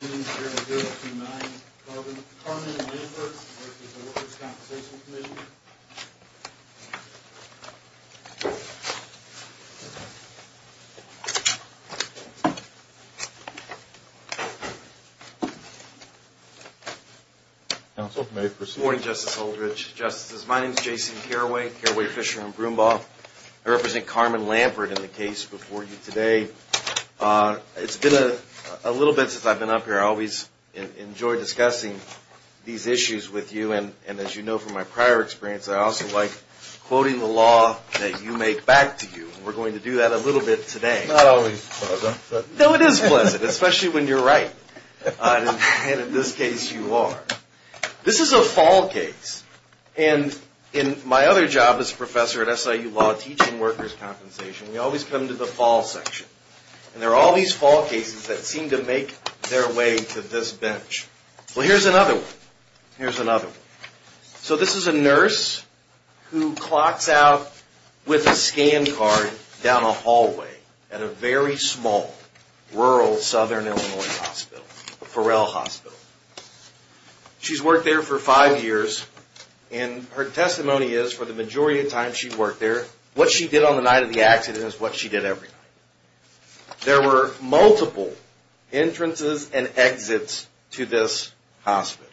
Good evening, this is 029, Carmen Lampert with the Holdridge Compensation Commission. Morning, Justice Holdridge, Justices. My name is Jason Carraway, Carraway, Fisher & Brumbaugh. I represent Carmen Lampert in the case before you today. It's been a little bit since I've been up here. I always enjoy discussing these issues with you. And as you know from my prior experience, I also like quoting the law that you make back to you. We're going to do that a little bit today. It's not always pleasant. No, it is pleasant, especially when you're right. And in this case, you are. This is a fall case. And in my other job as a professor at SIU Law, teaching workers' compensation, we always come to the fall section. And there are all these fall cases that seem to make their way to this bench. Well, here's another one. Here's another one. So this is a nurse who clocks out with a scan card down a hallway at a very small rural southern Illinois hospital, Ferrell Hospital. She's worked there for five years. And her testimony is, for the majority of the time she worked there, what she did on the night of the accident is what she did every night. There were multiple entrances and exits to this hospital.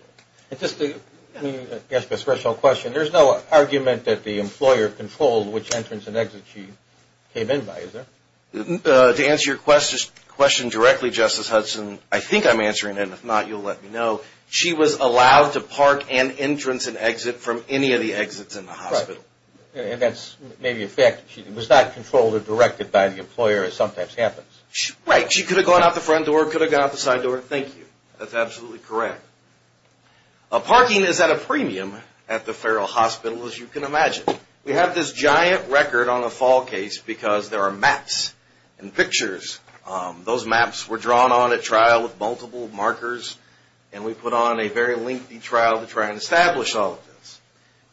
And just to ask a special question, there's no argument that the employer controlled which entrance and exit she came in by, is there? To answer your question directly, Justice Hudson, I think I'm answering it. And if not, you'll let me know. She was allowed to park an entrance and exit from any of the exits in the hospital. Right. And that's maybe a fact. She was not controlled or directed by the employer, as sometimes happens. Right. She could have gone out the front door, could have gone out the side door. Thank you. That's absolutely correct. Parking is at a premium at the Ferrell Hospital, as you can imagine. Those maps were drawn on at trial with multiple markers, and we put on a very lengthy trial to try and establish all of this.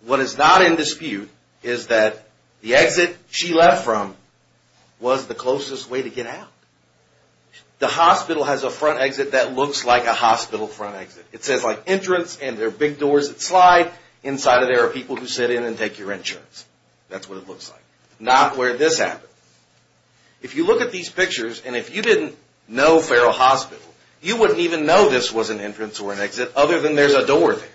What is not in dispute is that the exit she left from was the closest way to get out. The hospital has a front exit that looks like a hospital front exit. It says, like, entrance, and there are big doors that slide. Inside of there are people who sit in and take your insurance. That's what it looks like. Not where this happened. If you look at these pictures, and if you didn't know Ferrell Hospital, you wouldn't even know this was an entrance or an exit, other than there's a door there.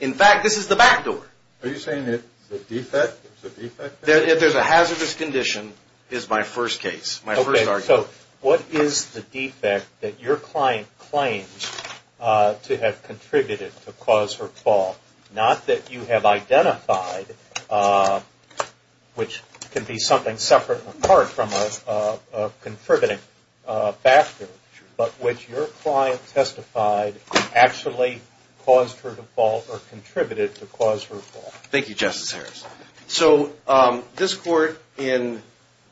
In fact, this is the back door. Are you saying it's a defect? If there's a hazardous condition, is my first case, my first argument. Okay, so what is the defect that your client claims to have contributed to cause her fall? Not that you have identified, which can be something separate and apart from a contributing factor, but which your client testified actually caused her to fall or contributed to cause her fall. Thank you, Justice Harris. So this court, in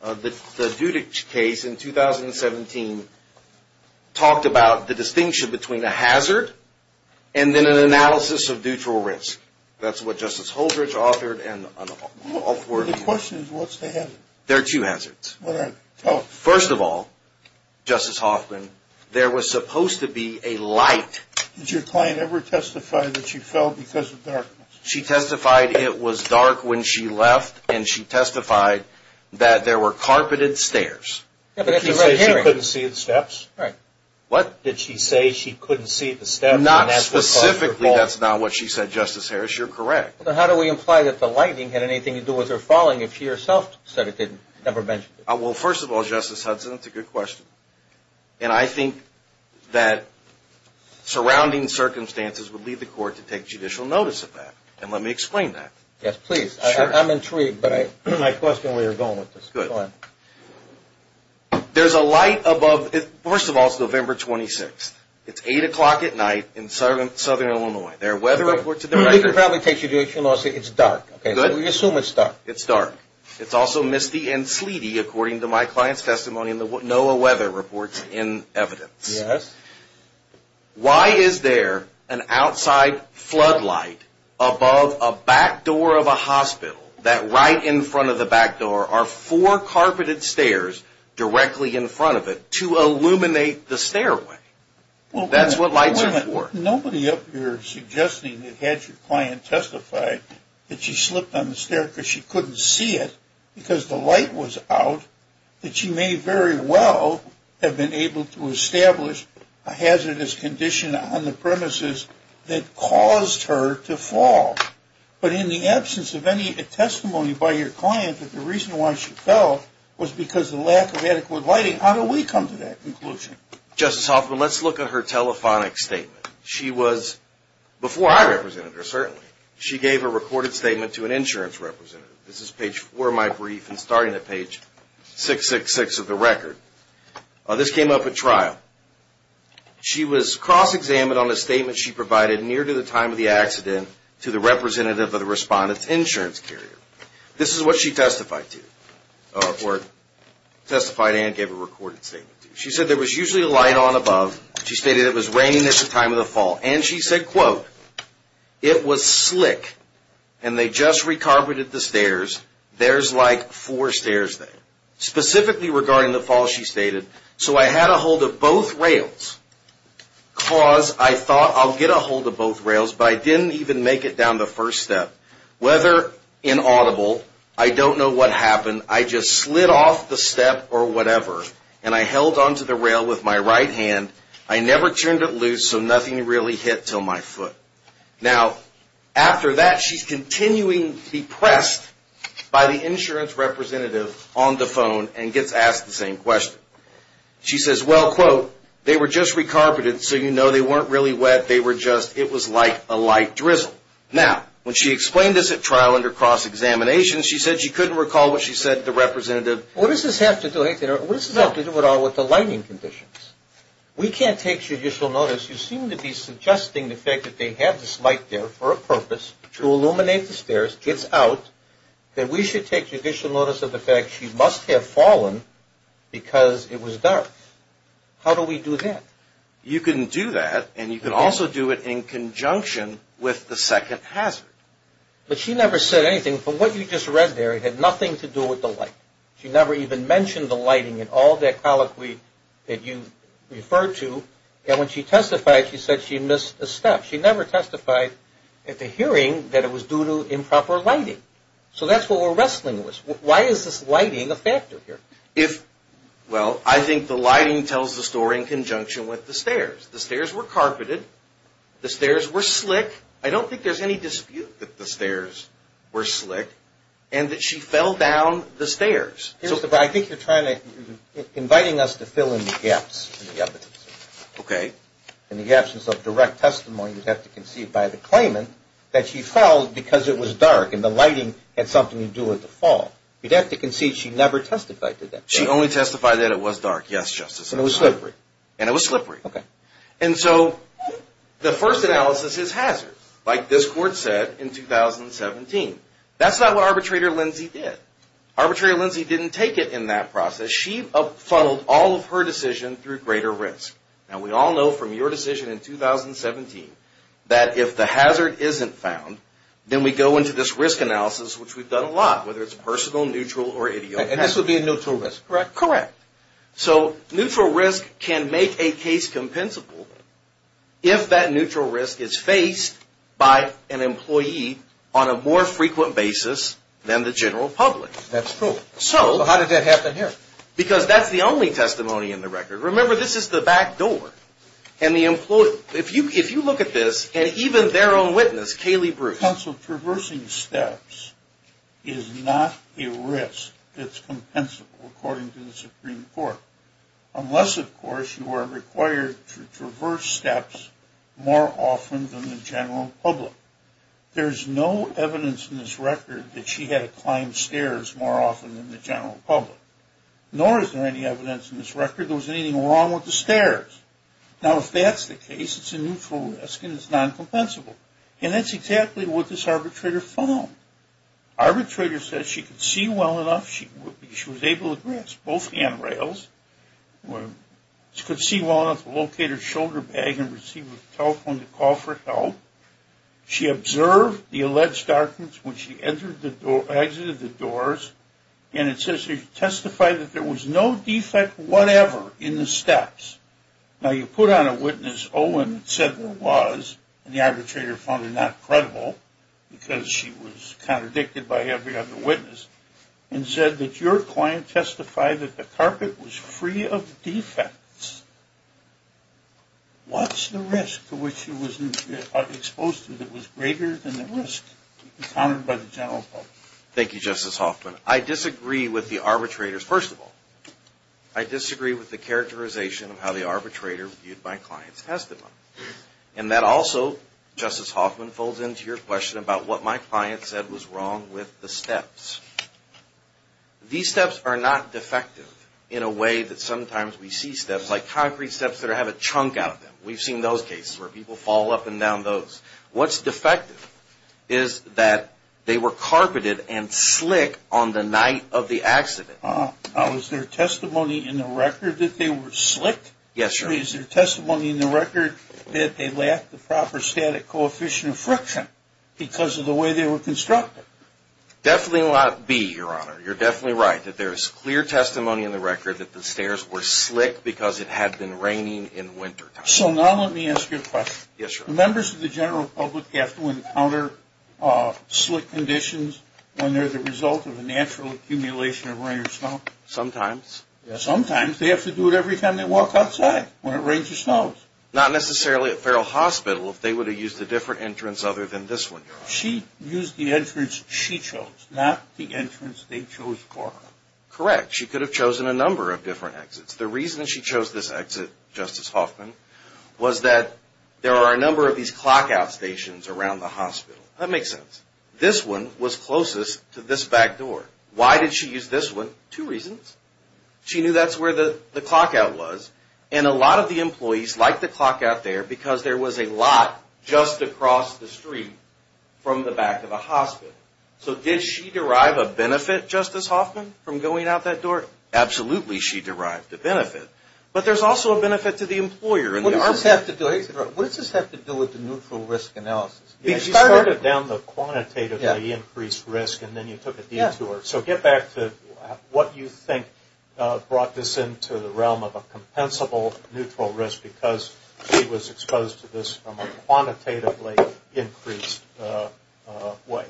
the Dudich case in 2017, talked about the distinction between a hazard and then an analysis of neutral risk. That's what Justice Holdridge authored and all four of them. The question is, what's the hazard? There are two hazards. What are they? Tell us. First of all, Justice Hoffman, there was supposed to be a light. Did your client ever testify that she fell because of darkness? She testified it was dark when she left, and she testified that there were carpeted stairs. Did she say she couldn't see the steps? What? Did she say she couldn't see the steps? Not specifically. That's not what she said, Justice Harris. You're correct. How do we imply that the lighting had anything to do with her falling if she herself said it didn't, never mentioned it? Well, first of all, Justice Hudson, that's a good question. And I think that surrounding circumstances would lead the court to take judicial notice of that. And let me explain that. Yes, please. I'm intrigued, but I question where you're going with this. Go ahead. There's a light above. First of all, it's November 26th. It's 8 o'clock at night in southern Illinois. There are weather reports. We can probably take judicial notice. It's dark. We assume it's dark. It's dark. It's also misty and sleety, according to my client's testimony and the NOAA weather reports in evidence. Yes. Why is there an outside floodlight above a back door of a hospital that right in front of the back door are four carpeted stairs directly in front of it to illuminate the stairway? That's what lights are for. I've got nobody up here suggesting that had your client testify that she slipped on the stairs because she couldn't see it because the light was out, that she may very well have been able to establish a hazardous condition on the premises that caused her to fall. But in the absence of any testimony by your client that the reason why she fell was because of the lack of adequate lighting, how do we come to that conclusion? Justice Hoffman, let's look at her telephonic statement. Before I represented her, certainly, she gave a recorded statement to an insurance representative. This is page 4 of my brief and starting at page 666 of the record. This came up at trial. She was cross-examined on the statement she provided near to the time of the accident to the representative of the respondent's insurance carrier. This is what she testified to, or testified and gave a recorded statement to. She said there was usually a light on above. She stated it was raining at the time of the fall. And she said, quote, it was slick and they just recarpeted the stairs. There's like four stairs there. Specifically regarding the fall, she stated, so I had a hold of both rails because I thought I'll get a hold of both rails, but I didn't even make it down the first step. Whether inaudible, I don't know what happened. I just slid off the step or whatever, and I held onto the rail with my right hand. I never turned it loose, so nothing really hit until my foot. Now, after that, she's continuing to be pressed by the insurance representative on the phone and gets asked the same question. She says, well, quote, they were just recarpeted, so you know they weren't really wet. They were just, it was like a light drizzle. Now, when she explained this at trial under cross-examination, she said she couldn't recall what she said to the representative. What does this have to do with anything? What does this have to do at all with the lighting conditions? We can't take judicial notice. You seem to be suggesting the fact that they had this light there for a purpose to illuminate the stairs, gets out, that we should take judicial notice of the fact she must have fallen because it was dark. How do we do that? You can do that, and you can also do it in conjunction with the second hazard. But she never said anything. From what you just read there, it had nothing to do with the light. She never even mentioned the lighting and all that colloquy that you referred to. And when she testified, she said she missed a step. She never testified at the hearing that it was due to improper lighting. So that's what we're wrestling with. Why is this lighting a factor here? Well, I think the lighting tells the story in conjunction with the stairs. The stairs were carpeted. The stairs were slick. I don't think there's any dispute that the stairs were slick and that she fell down the stairs. I think you're inviting us to fill in the gaps in the evidence. Okay. In the absence of direct testimony, you'd have to concede by the claimant that she fell because it was dark and the lighting had something to do with the fall. You'd have to concede she never testified to that. She only testified that it was dark, yes, Justice. And it was slippery. And it was slippery. Okay. And so the first analysis is hazard, like this court said in 2017. That's not what Arbitrator Lindsey did. Arbitrator Lindsey didn't take it in that process. She up-funneled all of her decision through greater risk. Now, we all know from your decision in 2017 that if the hazard isn't found, then we go into this risk analysis, which we've done a lot, whether it's personal, neutral, or ideal. And this would be a neutral risk, correct? Correct. So neutral risk can make a case compensable if that neutral risk is faced by an employee on a more frequent basis than the general public. That's true. So how did that happen here? Because that's the only testimony in the record. Remember, this is the back door. If you look at this, and even their own witness, Kaylee Bruce. Counsel, traversing steps is not a risk that's compensable, according to the Supreme Court, unless, of course, you are required to traverse steps more often than the general public. There's no evidence in this record that she had to climb stairs more often than the general public. Nor is there any evidence in this record there was anything wrong with the stairs. Now, if that's the case, it's a neutral risk and it's non-compensable. And that's exactly what this arbitrator found. Arbitrator says she could see well enough. She was able to grasp both handrails. She could see well enough to locate her shoulder bag and receive a telephone to call for help. She observed the alleged darkness when she exited the doors. And it says here she testified that there was no defect whatever in the steps. Now, you put on a witness, Owen, that said there was, and the arbitrator found it not credible because she was contradicted by every other witness, and said that your client testified that the carpet was free of defects. What's the risk to which she was exposed to that was greater than the risk encountered by the general public? Thank you, Justice Hoffman. I disagree with the arbitrator's, first of all, I disagree with the characterization of how the arbitrator viewed my client's testimony. And that also, Justice Hoffman, folds into your question about what my client said was wrong with the steps. These steps are not defective in a way that sometimes we see steps, like concrete steps that have a chunk out of them. We've seen those cases where people fall up and down those. What's defective is that they were carpeted and slick on the night of the accident. Now, is there testimony in the record that they were slick? Yes, Your Honor. Is there testimony in the record that they lacked the proper static coefficient of friction because of the way they were constructed? Definitely will not be, Your Honor. You're definitely right that there is clear testimony in the record that the stairs were slick because it had been raining in wintertime. So now let me ask you a question. Yes, Your Honor. Do members of the general public have to encounter slick conditions when they're the result of a natural accumulation of rain or snow? Sometimes. Sometimes? They have to do it every time they walk outside when it rains or snows. Not necessarily at Farrell Hospital if they would have used a different entrance other than this one, Your Honor. She used the entrance she chose, not the entrance they chose for her. Correct. She could have chosen a number of different exits. The reason she chose this exit, Justice Hoffman, was that there are a number of these clock-out stations around the hospital. That makes sense. This one was closest to this back door. Why did she use this one? Two reasons. She knew that's where the clock-out was, and a lot of the employees liked the clock-out there because there was a lot just across the street from the back of the hospital. So did she derive a benefit, Justice Hoffman, from going out that door? Absolutely she derived a benefit. But there's also a benefit to the employer. What does this have to do with the neutral risk analysis? She started down the quantitatively increased risk, and then you took a detour. So get back to what you think brought this into the realm of a compensable neutral risk because she was exposed to this from a quantitatively increased way.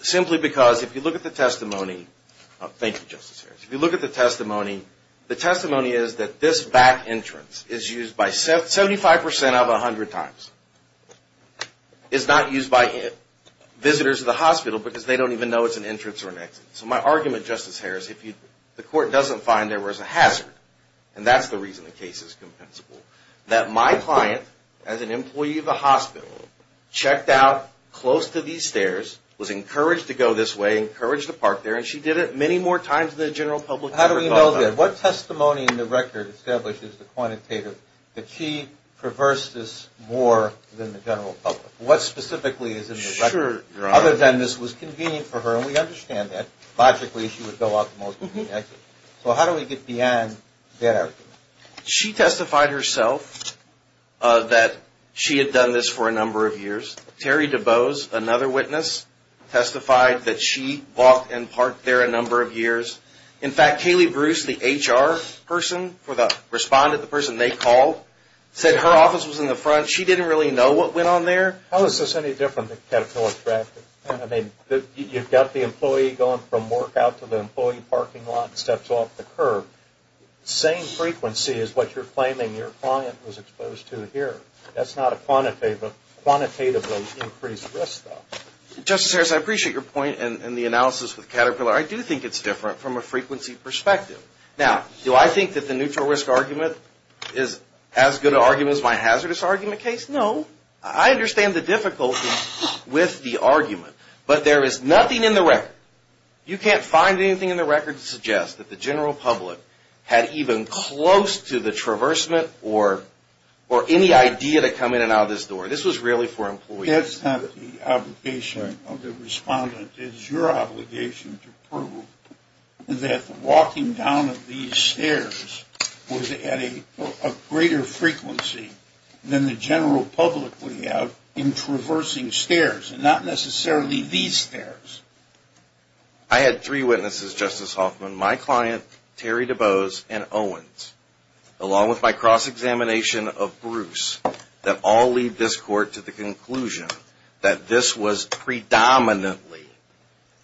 Simply because if you look at the testimony, thank you, Justice Harris. If you look at the testimony, the testimony is that this back entrance is used by 75% of 100 times. It's not used by visitors to the hospital because they don't even know it's an entrance or an exit. So my argument, Justice Harris, if the court doesn't find there was a hazard, and that's the reason the case is compensable, that my client, as an employee of the hospital, checked out close to these stairs, was encouraged to go this way, encouraged to park there, and she did it many more times than the general public ever thought about. How do we know that? What testimony in the record establishes the quantitative that she perversed this more than the general public? What specifically is in the record? Sure, Your Honor. Other than this was convenient for her, and we understand that. Logically, she would go out the most convenient exit. So how do we get beyond that argument? She testified herself that she had done this for a number of years. Terry DeBose, another witness, testified that she walked and parked there a number of years. In fact, Kaylee Bruce, the HR person, responded, the person they called, said her office was in the front. She didn't really know what went on there. How is this any different than Caterpillar traffic? I mean, you've got the employee going from work out to the employee parking lot, steps off the curb. Same frequency as what you're claiming your client was exposed to here. That's not a quantitatively increased risk, though. Justice Harris, I appreciate your point and the analysis with Caterpillar. I do think it's different from a frequency perspective. Now, do I think that the neutral risk argument is as good an argument as my hazardous argument case? No. I understand the difficulty with the argument, but there is nothing in the record. You can't find anything in the record to suggest that the general public had even close to the traversement or any idea to come in and out of this door. This was really for employees. That's not the obligation of the respondent. It's your obligation to prove that the walking down of these stairs was at a greater frequency than the general public would have in traversing stairs, and not necessarily these stairs. I had three witnesses, Justice Hoffman, my client, Terry DeBose, and Owens, along with my cross-examination of Bruce, that all lead this court to the conclusion that this was predominantly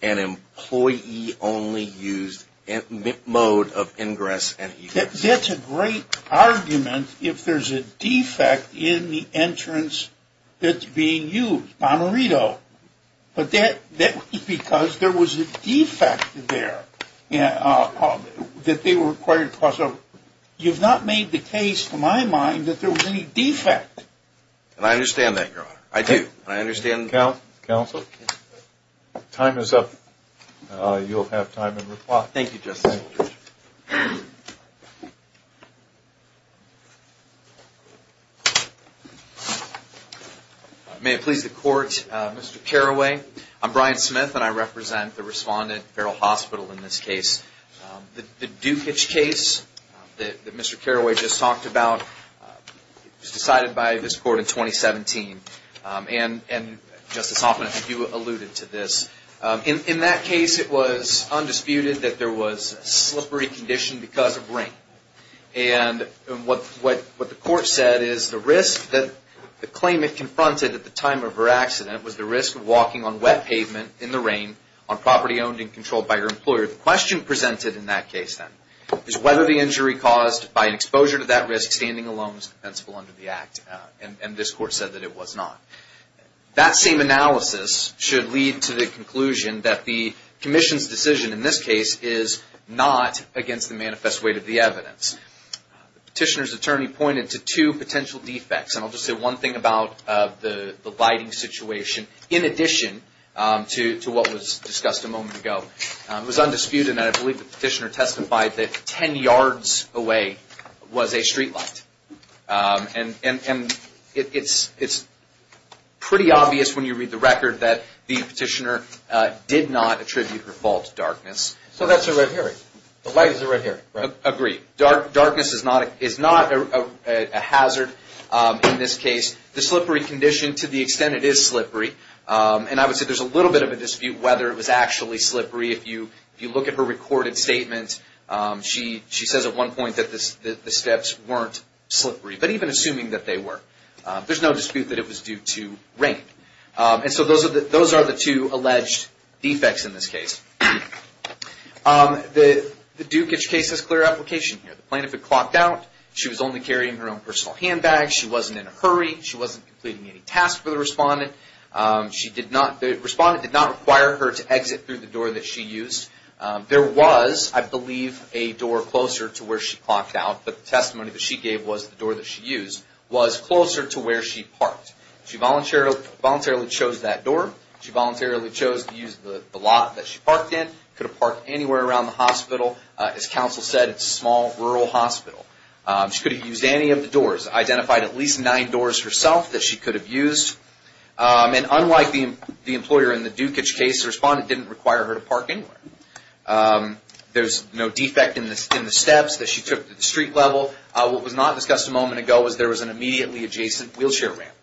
an employee-only mode of ingress and exit. That's a great argument if there's a defect in the entrance that's being used, Bonarito. But that was because there was a defect there that they were required to cross over. You've not made the case, to my mind, that there was any defect. I understand that, Your Honor. I do. I understand. Counsel, time is up. You'll have time to reply. Thank you, Justice Holdren. May it please the Court, Mr. Carraway. I'm Brian Smith, and I represent the respondent, Feral Hospital, in this case. The Dukic case that Mr. Carraway just talked about was decided by this Court in 2017, and, Justice Hoffman, I think you alluded to this. In that case, it was undisputed that there was a slippery condition because of rain. And what the Court said is the risk that the claimant confronted at the time of her accident was the risk of walking on wet pavement in the rain on property owned and controlled by her employer. The question presented in that case, then, is whether the injury caused by an exposure to that risk standing alone was defensible under the Act, and this Court said that it was not. That same analysis should lead to the conclusion that the Commission's decision in this case is not against the manifest weight of the evidence. The Petitioner's attorney pointed to two potential defects, and I'll just say one thing about the lighting situation in addition to what was discussed a moment ago. It was undisputed, and I believe the Petitioner testified that 10 yards away was a streetlight. And it's pretty obvious when you read the record that the Petitioner did not attribute her fault to darkness. So that's a red herring. The light is a red herring, right? Agreed. Darkness is not a hazard in this case. The slippery condition, to the extent it is slippery, and I would say there's a little bit of a dispute whether it was actually slippery. If you look at her recorded statement, she says at one point that the steps weren't slippery, but even assuming that they were, there's no dispute that it was due to rain. And so those are the two alleged defects in this case. The Dukic case has clear application here. The plaintiff had clocked out. She was only carrying her own personal handbag. She wasn't in a hurry. She wasn't completing any tasks for the respondent. The respondent did not require her to exit through the door that she used. There was, I believe, a door closer to where she clocked out, but the testimony that she gave was the door that she used was closer to where she parked. She voluntarily chose that door. She voluntarily chose to use the lot that she parked in. Could have parked anywhere around the hospital. As counsel said, it's a small, rural hospital. She could have used any of the doors. Identified at least nine doors herself that she could have used. And unlike the employer in the Dukic case, the respondent didn't require her to park anywhere. There's no defect in the steps that she took at the street level. What was not discussed a moment ago was there was an immediately adjacent wheelchair ramp,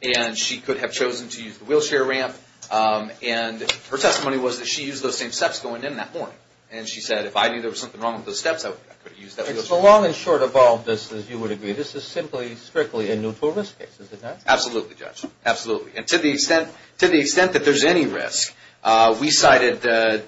and she could have chosen to use the wheelchair ramp. And her testimony was that she used those same steps going in that morning. And she said, if I knew there was something wrong with those steps, I could have used that wheelchair ramp. So long and short of all of this, as you would agree, this is simply strictly a neutral risk case, is it not? Absolutely, Judge. Absolutely. And to the extent that there's any risk, we cited the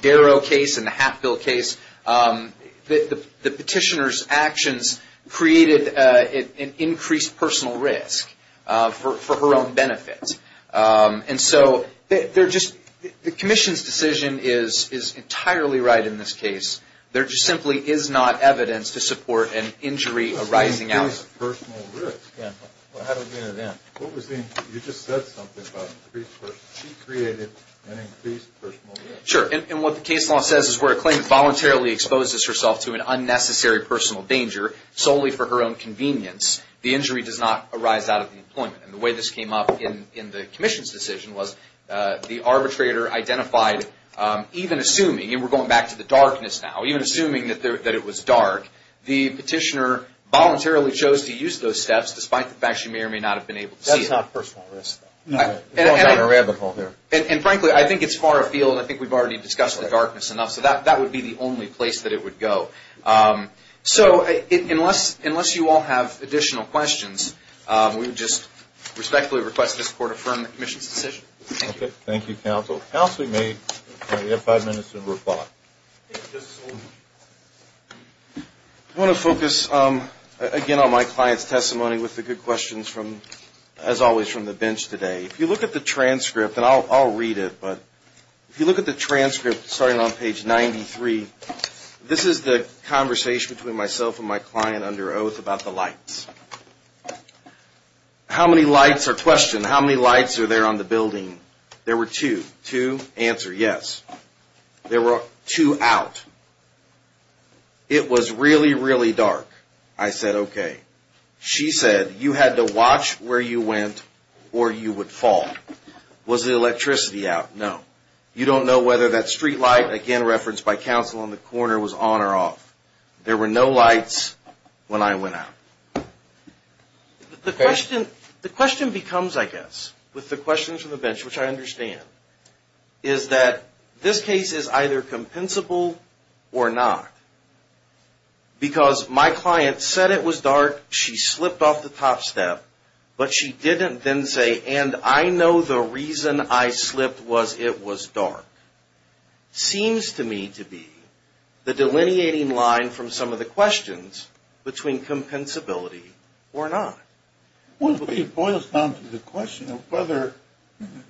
Darrow case and the Hatfield case. The petitioner's actions created an increased personal risk for her own benefit. And so the commission's decision is entirely right in this case. There just simply is not evidence to support an injury arising out of this. What do you mean increased personal risk? I haven't been to them. You just said something about increased personal risk. She created an increased personal risk. Sure. And what the case law says is where a claimant voluntarily exposes herself to an unnecessary personal danger, solely for her own convenience, the injury does not arise out of the employment. And the way this came up in the commission's decision was the arbitrator identified, even assuming, and we're going back to the darkness now, even assuming that it was dark, the petitioner voluntarily chose to use those steps despite the fact she may or may not have been able to see it. That's not personal risk, though. We're going down a rabbit hole here. And frankly, I think it's far afield. I think we've already discussed the darkness enough. So that would be the only place that it would go. So unless you all have additional questions, we would just respectfully request that this Court affirm the commission's decision. Thank you. Thank you, Counsel. Counsel, you have five minutes to reply. I want to focus, again, on my client's testimony with the good questions, as always, from the bench today. If you look at the transcript, and I'll read it, but if you look at the transcript starting on page 93, this is the conversation between myself and my client under oath about the lights. How many lights are questioned? How many lights are there on the building? There were two. Two? Answer, yes. There were two out. It was really, really dark. I said, okay. She said, you had to watch where you went or you would fall. Was the electricity out? No. You don't know whether that street light, again referenced by Counsel on the corner, was on or off. There were no lights when I went out. The question becomes, I guess, with the questions from the bench, which I understand, is that this case is either compensable or not. Because my client said it was dark, she slipped off the top step, but she didn't then say, and I know the reason I slipped was it was dark. Seems to me to be the delineating line from some of the questions between compensability or not. It boils down to the question of whether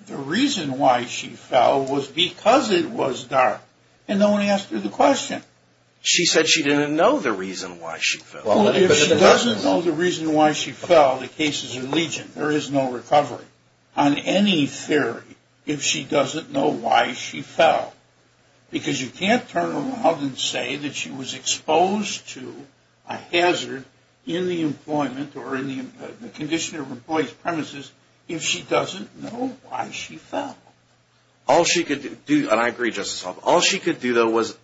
the reason why she fell was because it was dark and no one asked her the question. She said she didn't know the reason why she fell. If she doesn't know the reason why she fell, the case is in legion. There is no recovery on any theory. If she doesn't know why she fell. Because you can't turn around and say that she was exposed to a hazard in the employment or in the condition of employee's premises if she doesn't know why she fell. All she could do, and I agree, Justice Alito, all she could do, though, was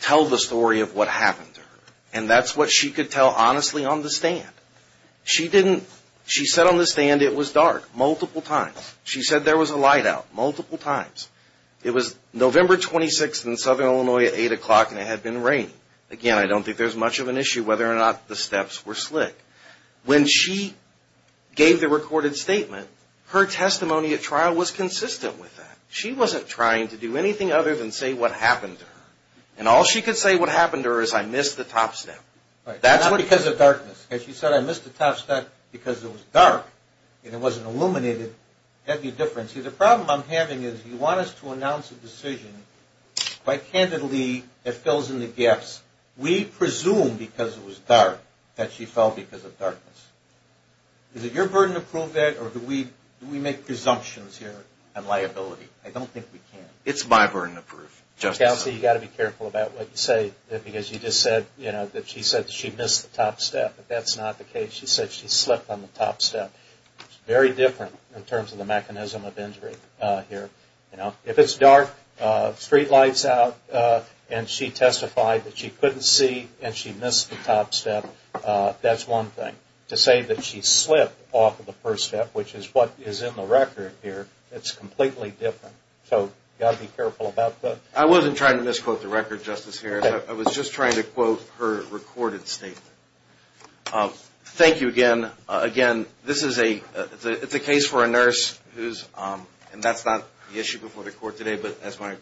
tell the story of what happened to her. And that's what she could tell honestly on the stand. She didn't, she said on the stand it was dark multiple times. She said there was a light out multiple times. It was November 26th in Southern Illinois at 8 o'clock and it had been raining. Again, I don't think there's much of an issue whether or not the steps were slick. When she gave the recorded statement, her testimony at trial was consistent with that. She wasn't trying to do anything other than say what happened to her. And all she could say what happened to her is I missed the top step. Not because of darkness. If she said I missed the top step because it was dark and it wasn't illuminated, that would be different. See, the problem I'm having is you want us to announce a decision quite candidly that fills in the gaps. We presume because it was dark that she fell because of darkness. Is it your burden to prove that or do we make presumptions here on liability? I don't think we can. It's my burden to prove, Justice Alito. Counsel, you've got to be careful about what you say. Because you just said that she said she missed the top step. That's not the case. She said she slipped on the top step. It's very different in terms of the mechanism of injury here. If it's dark, street light's out, and she testified that she couldn't see and she missed the top step, that's one thing. To say that she slipped off of the first step, which is what is in the record here, it's completely different. So you've got to be careful about that. I wasn't trying to misquote the record, Justice Harris. I was just trying to quote her recorded statement. Thank you again. Again, this is a case for a nurse, and that's not the issue before the court today, but as my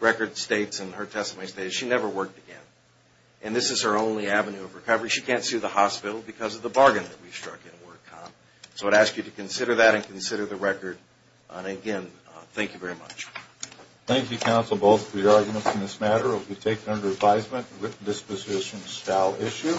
record states and her testimony states, she never worked again. And this is her only avenue of recovery. She can't see the hospital because of the bargain that we struck in WordCom. So I'd ask you to consider that and consider the record. Again, thank you very much. Thank you, counsel, both for your arguments in this matter. It will be taken under advisement with disposition shall issue.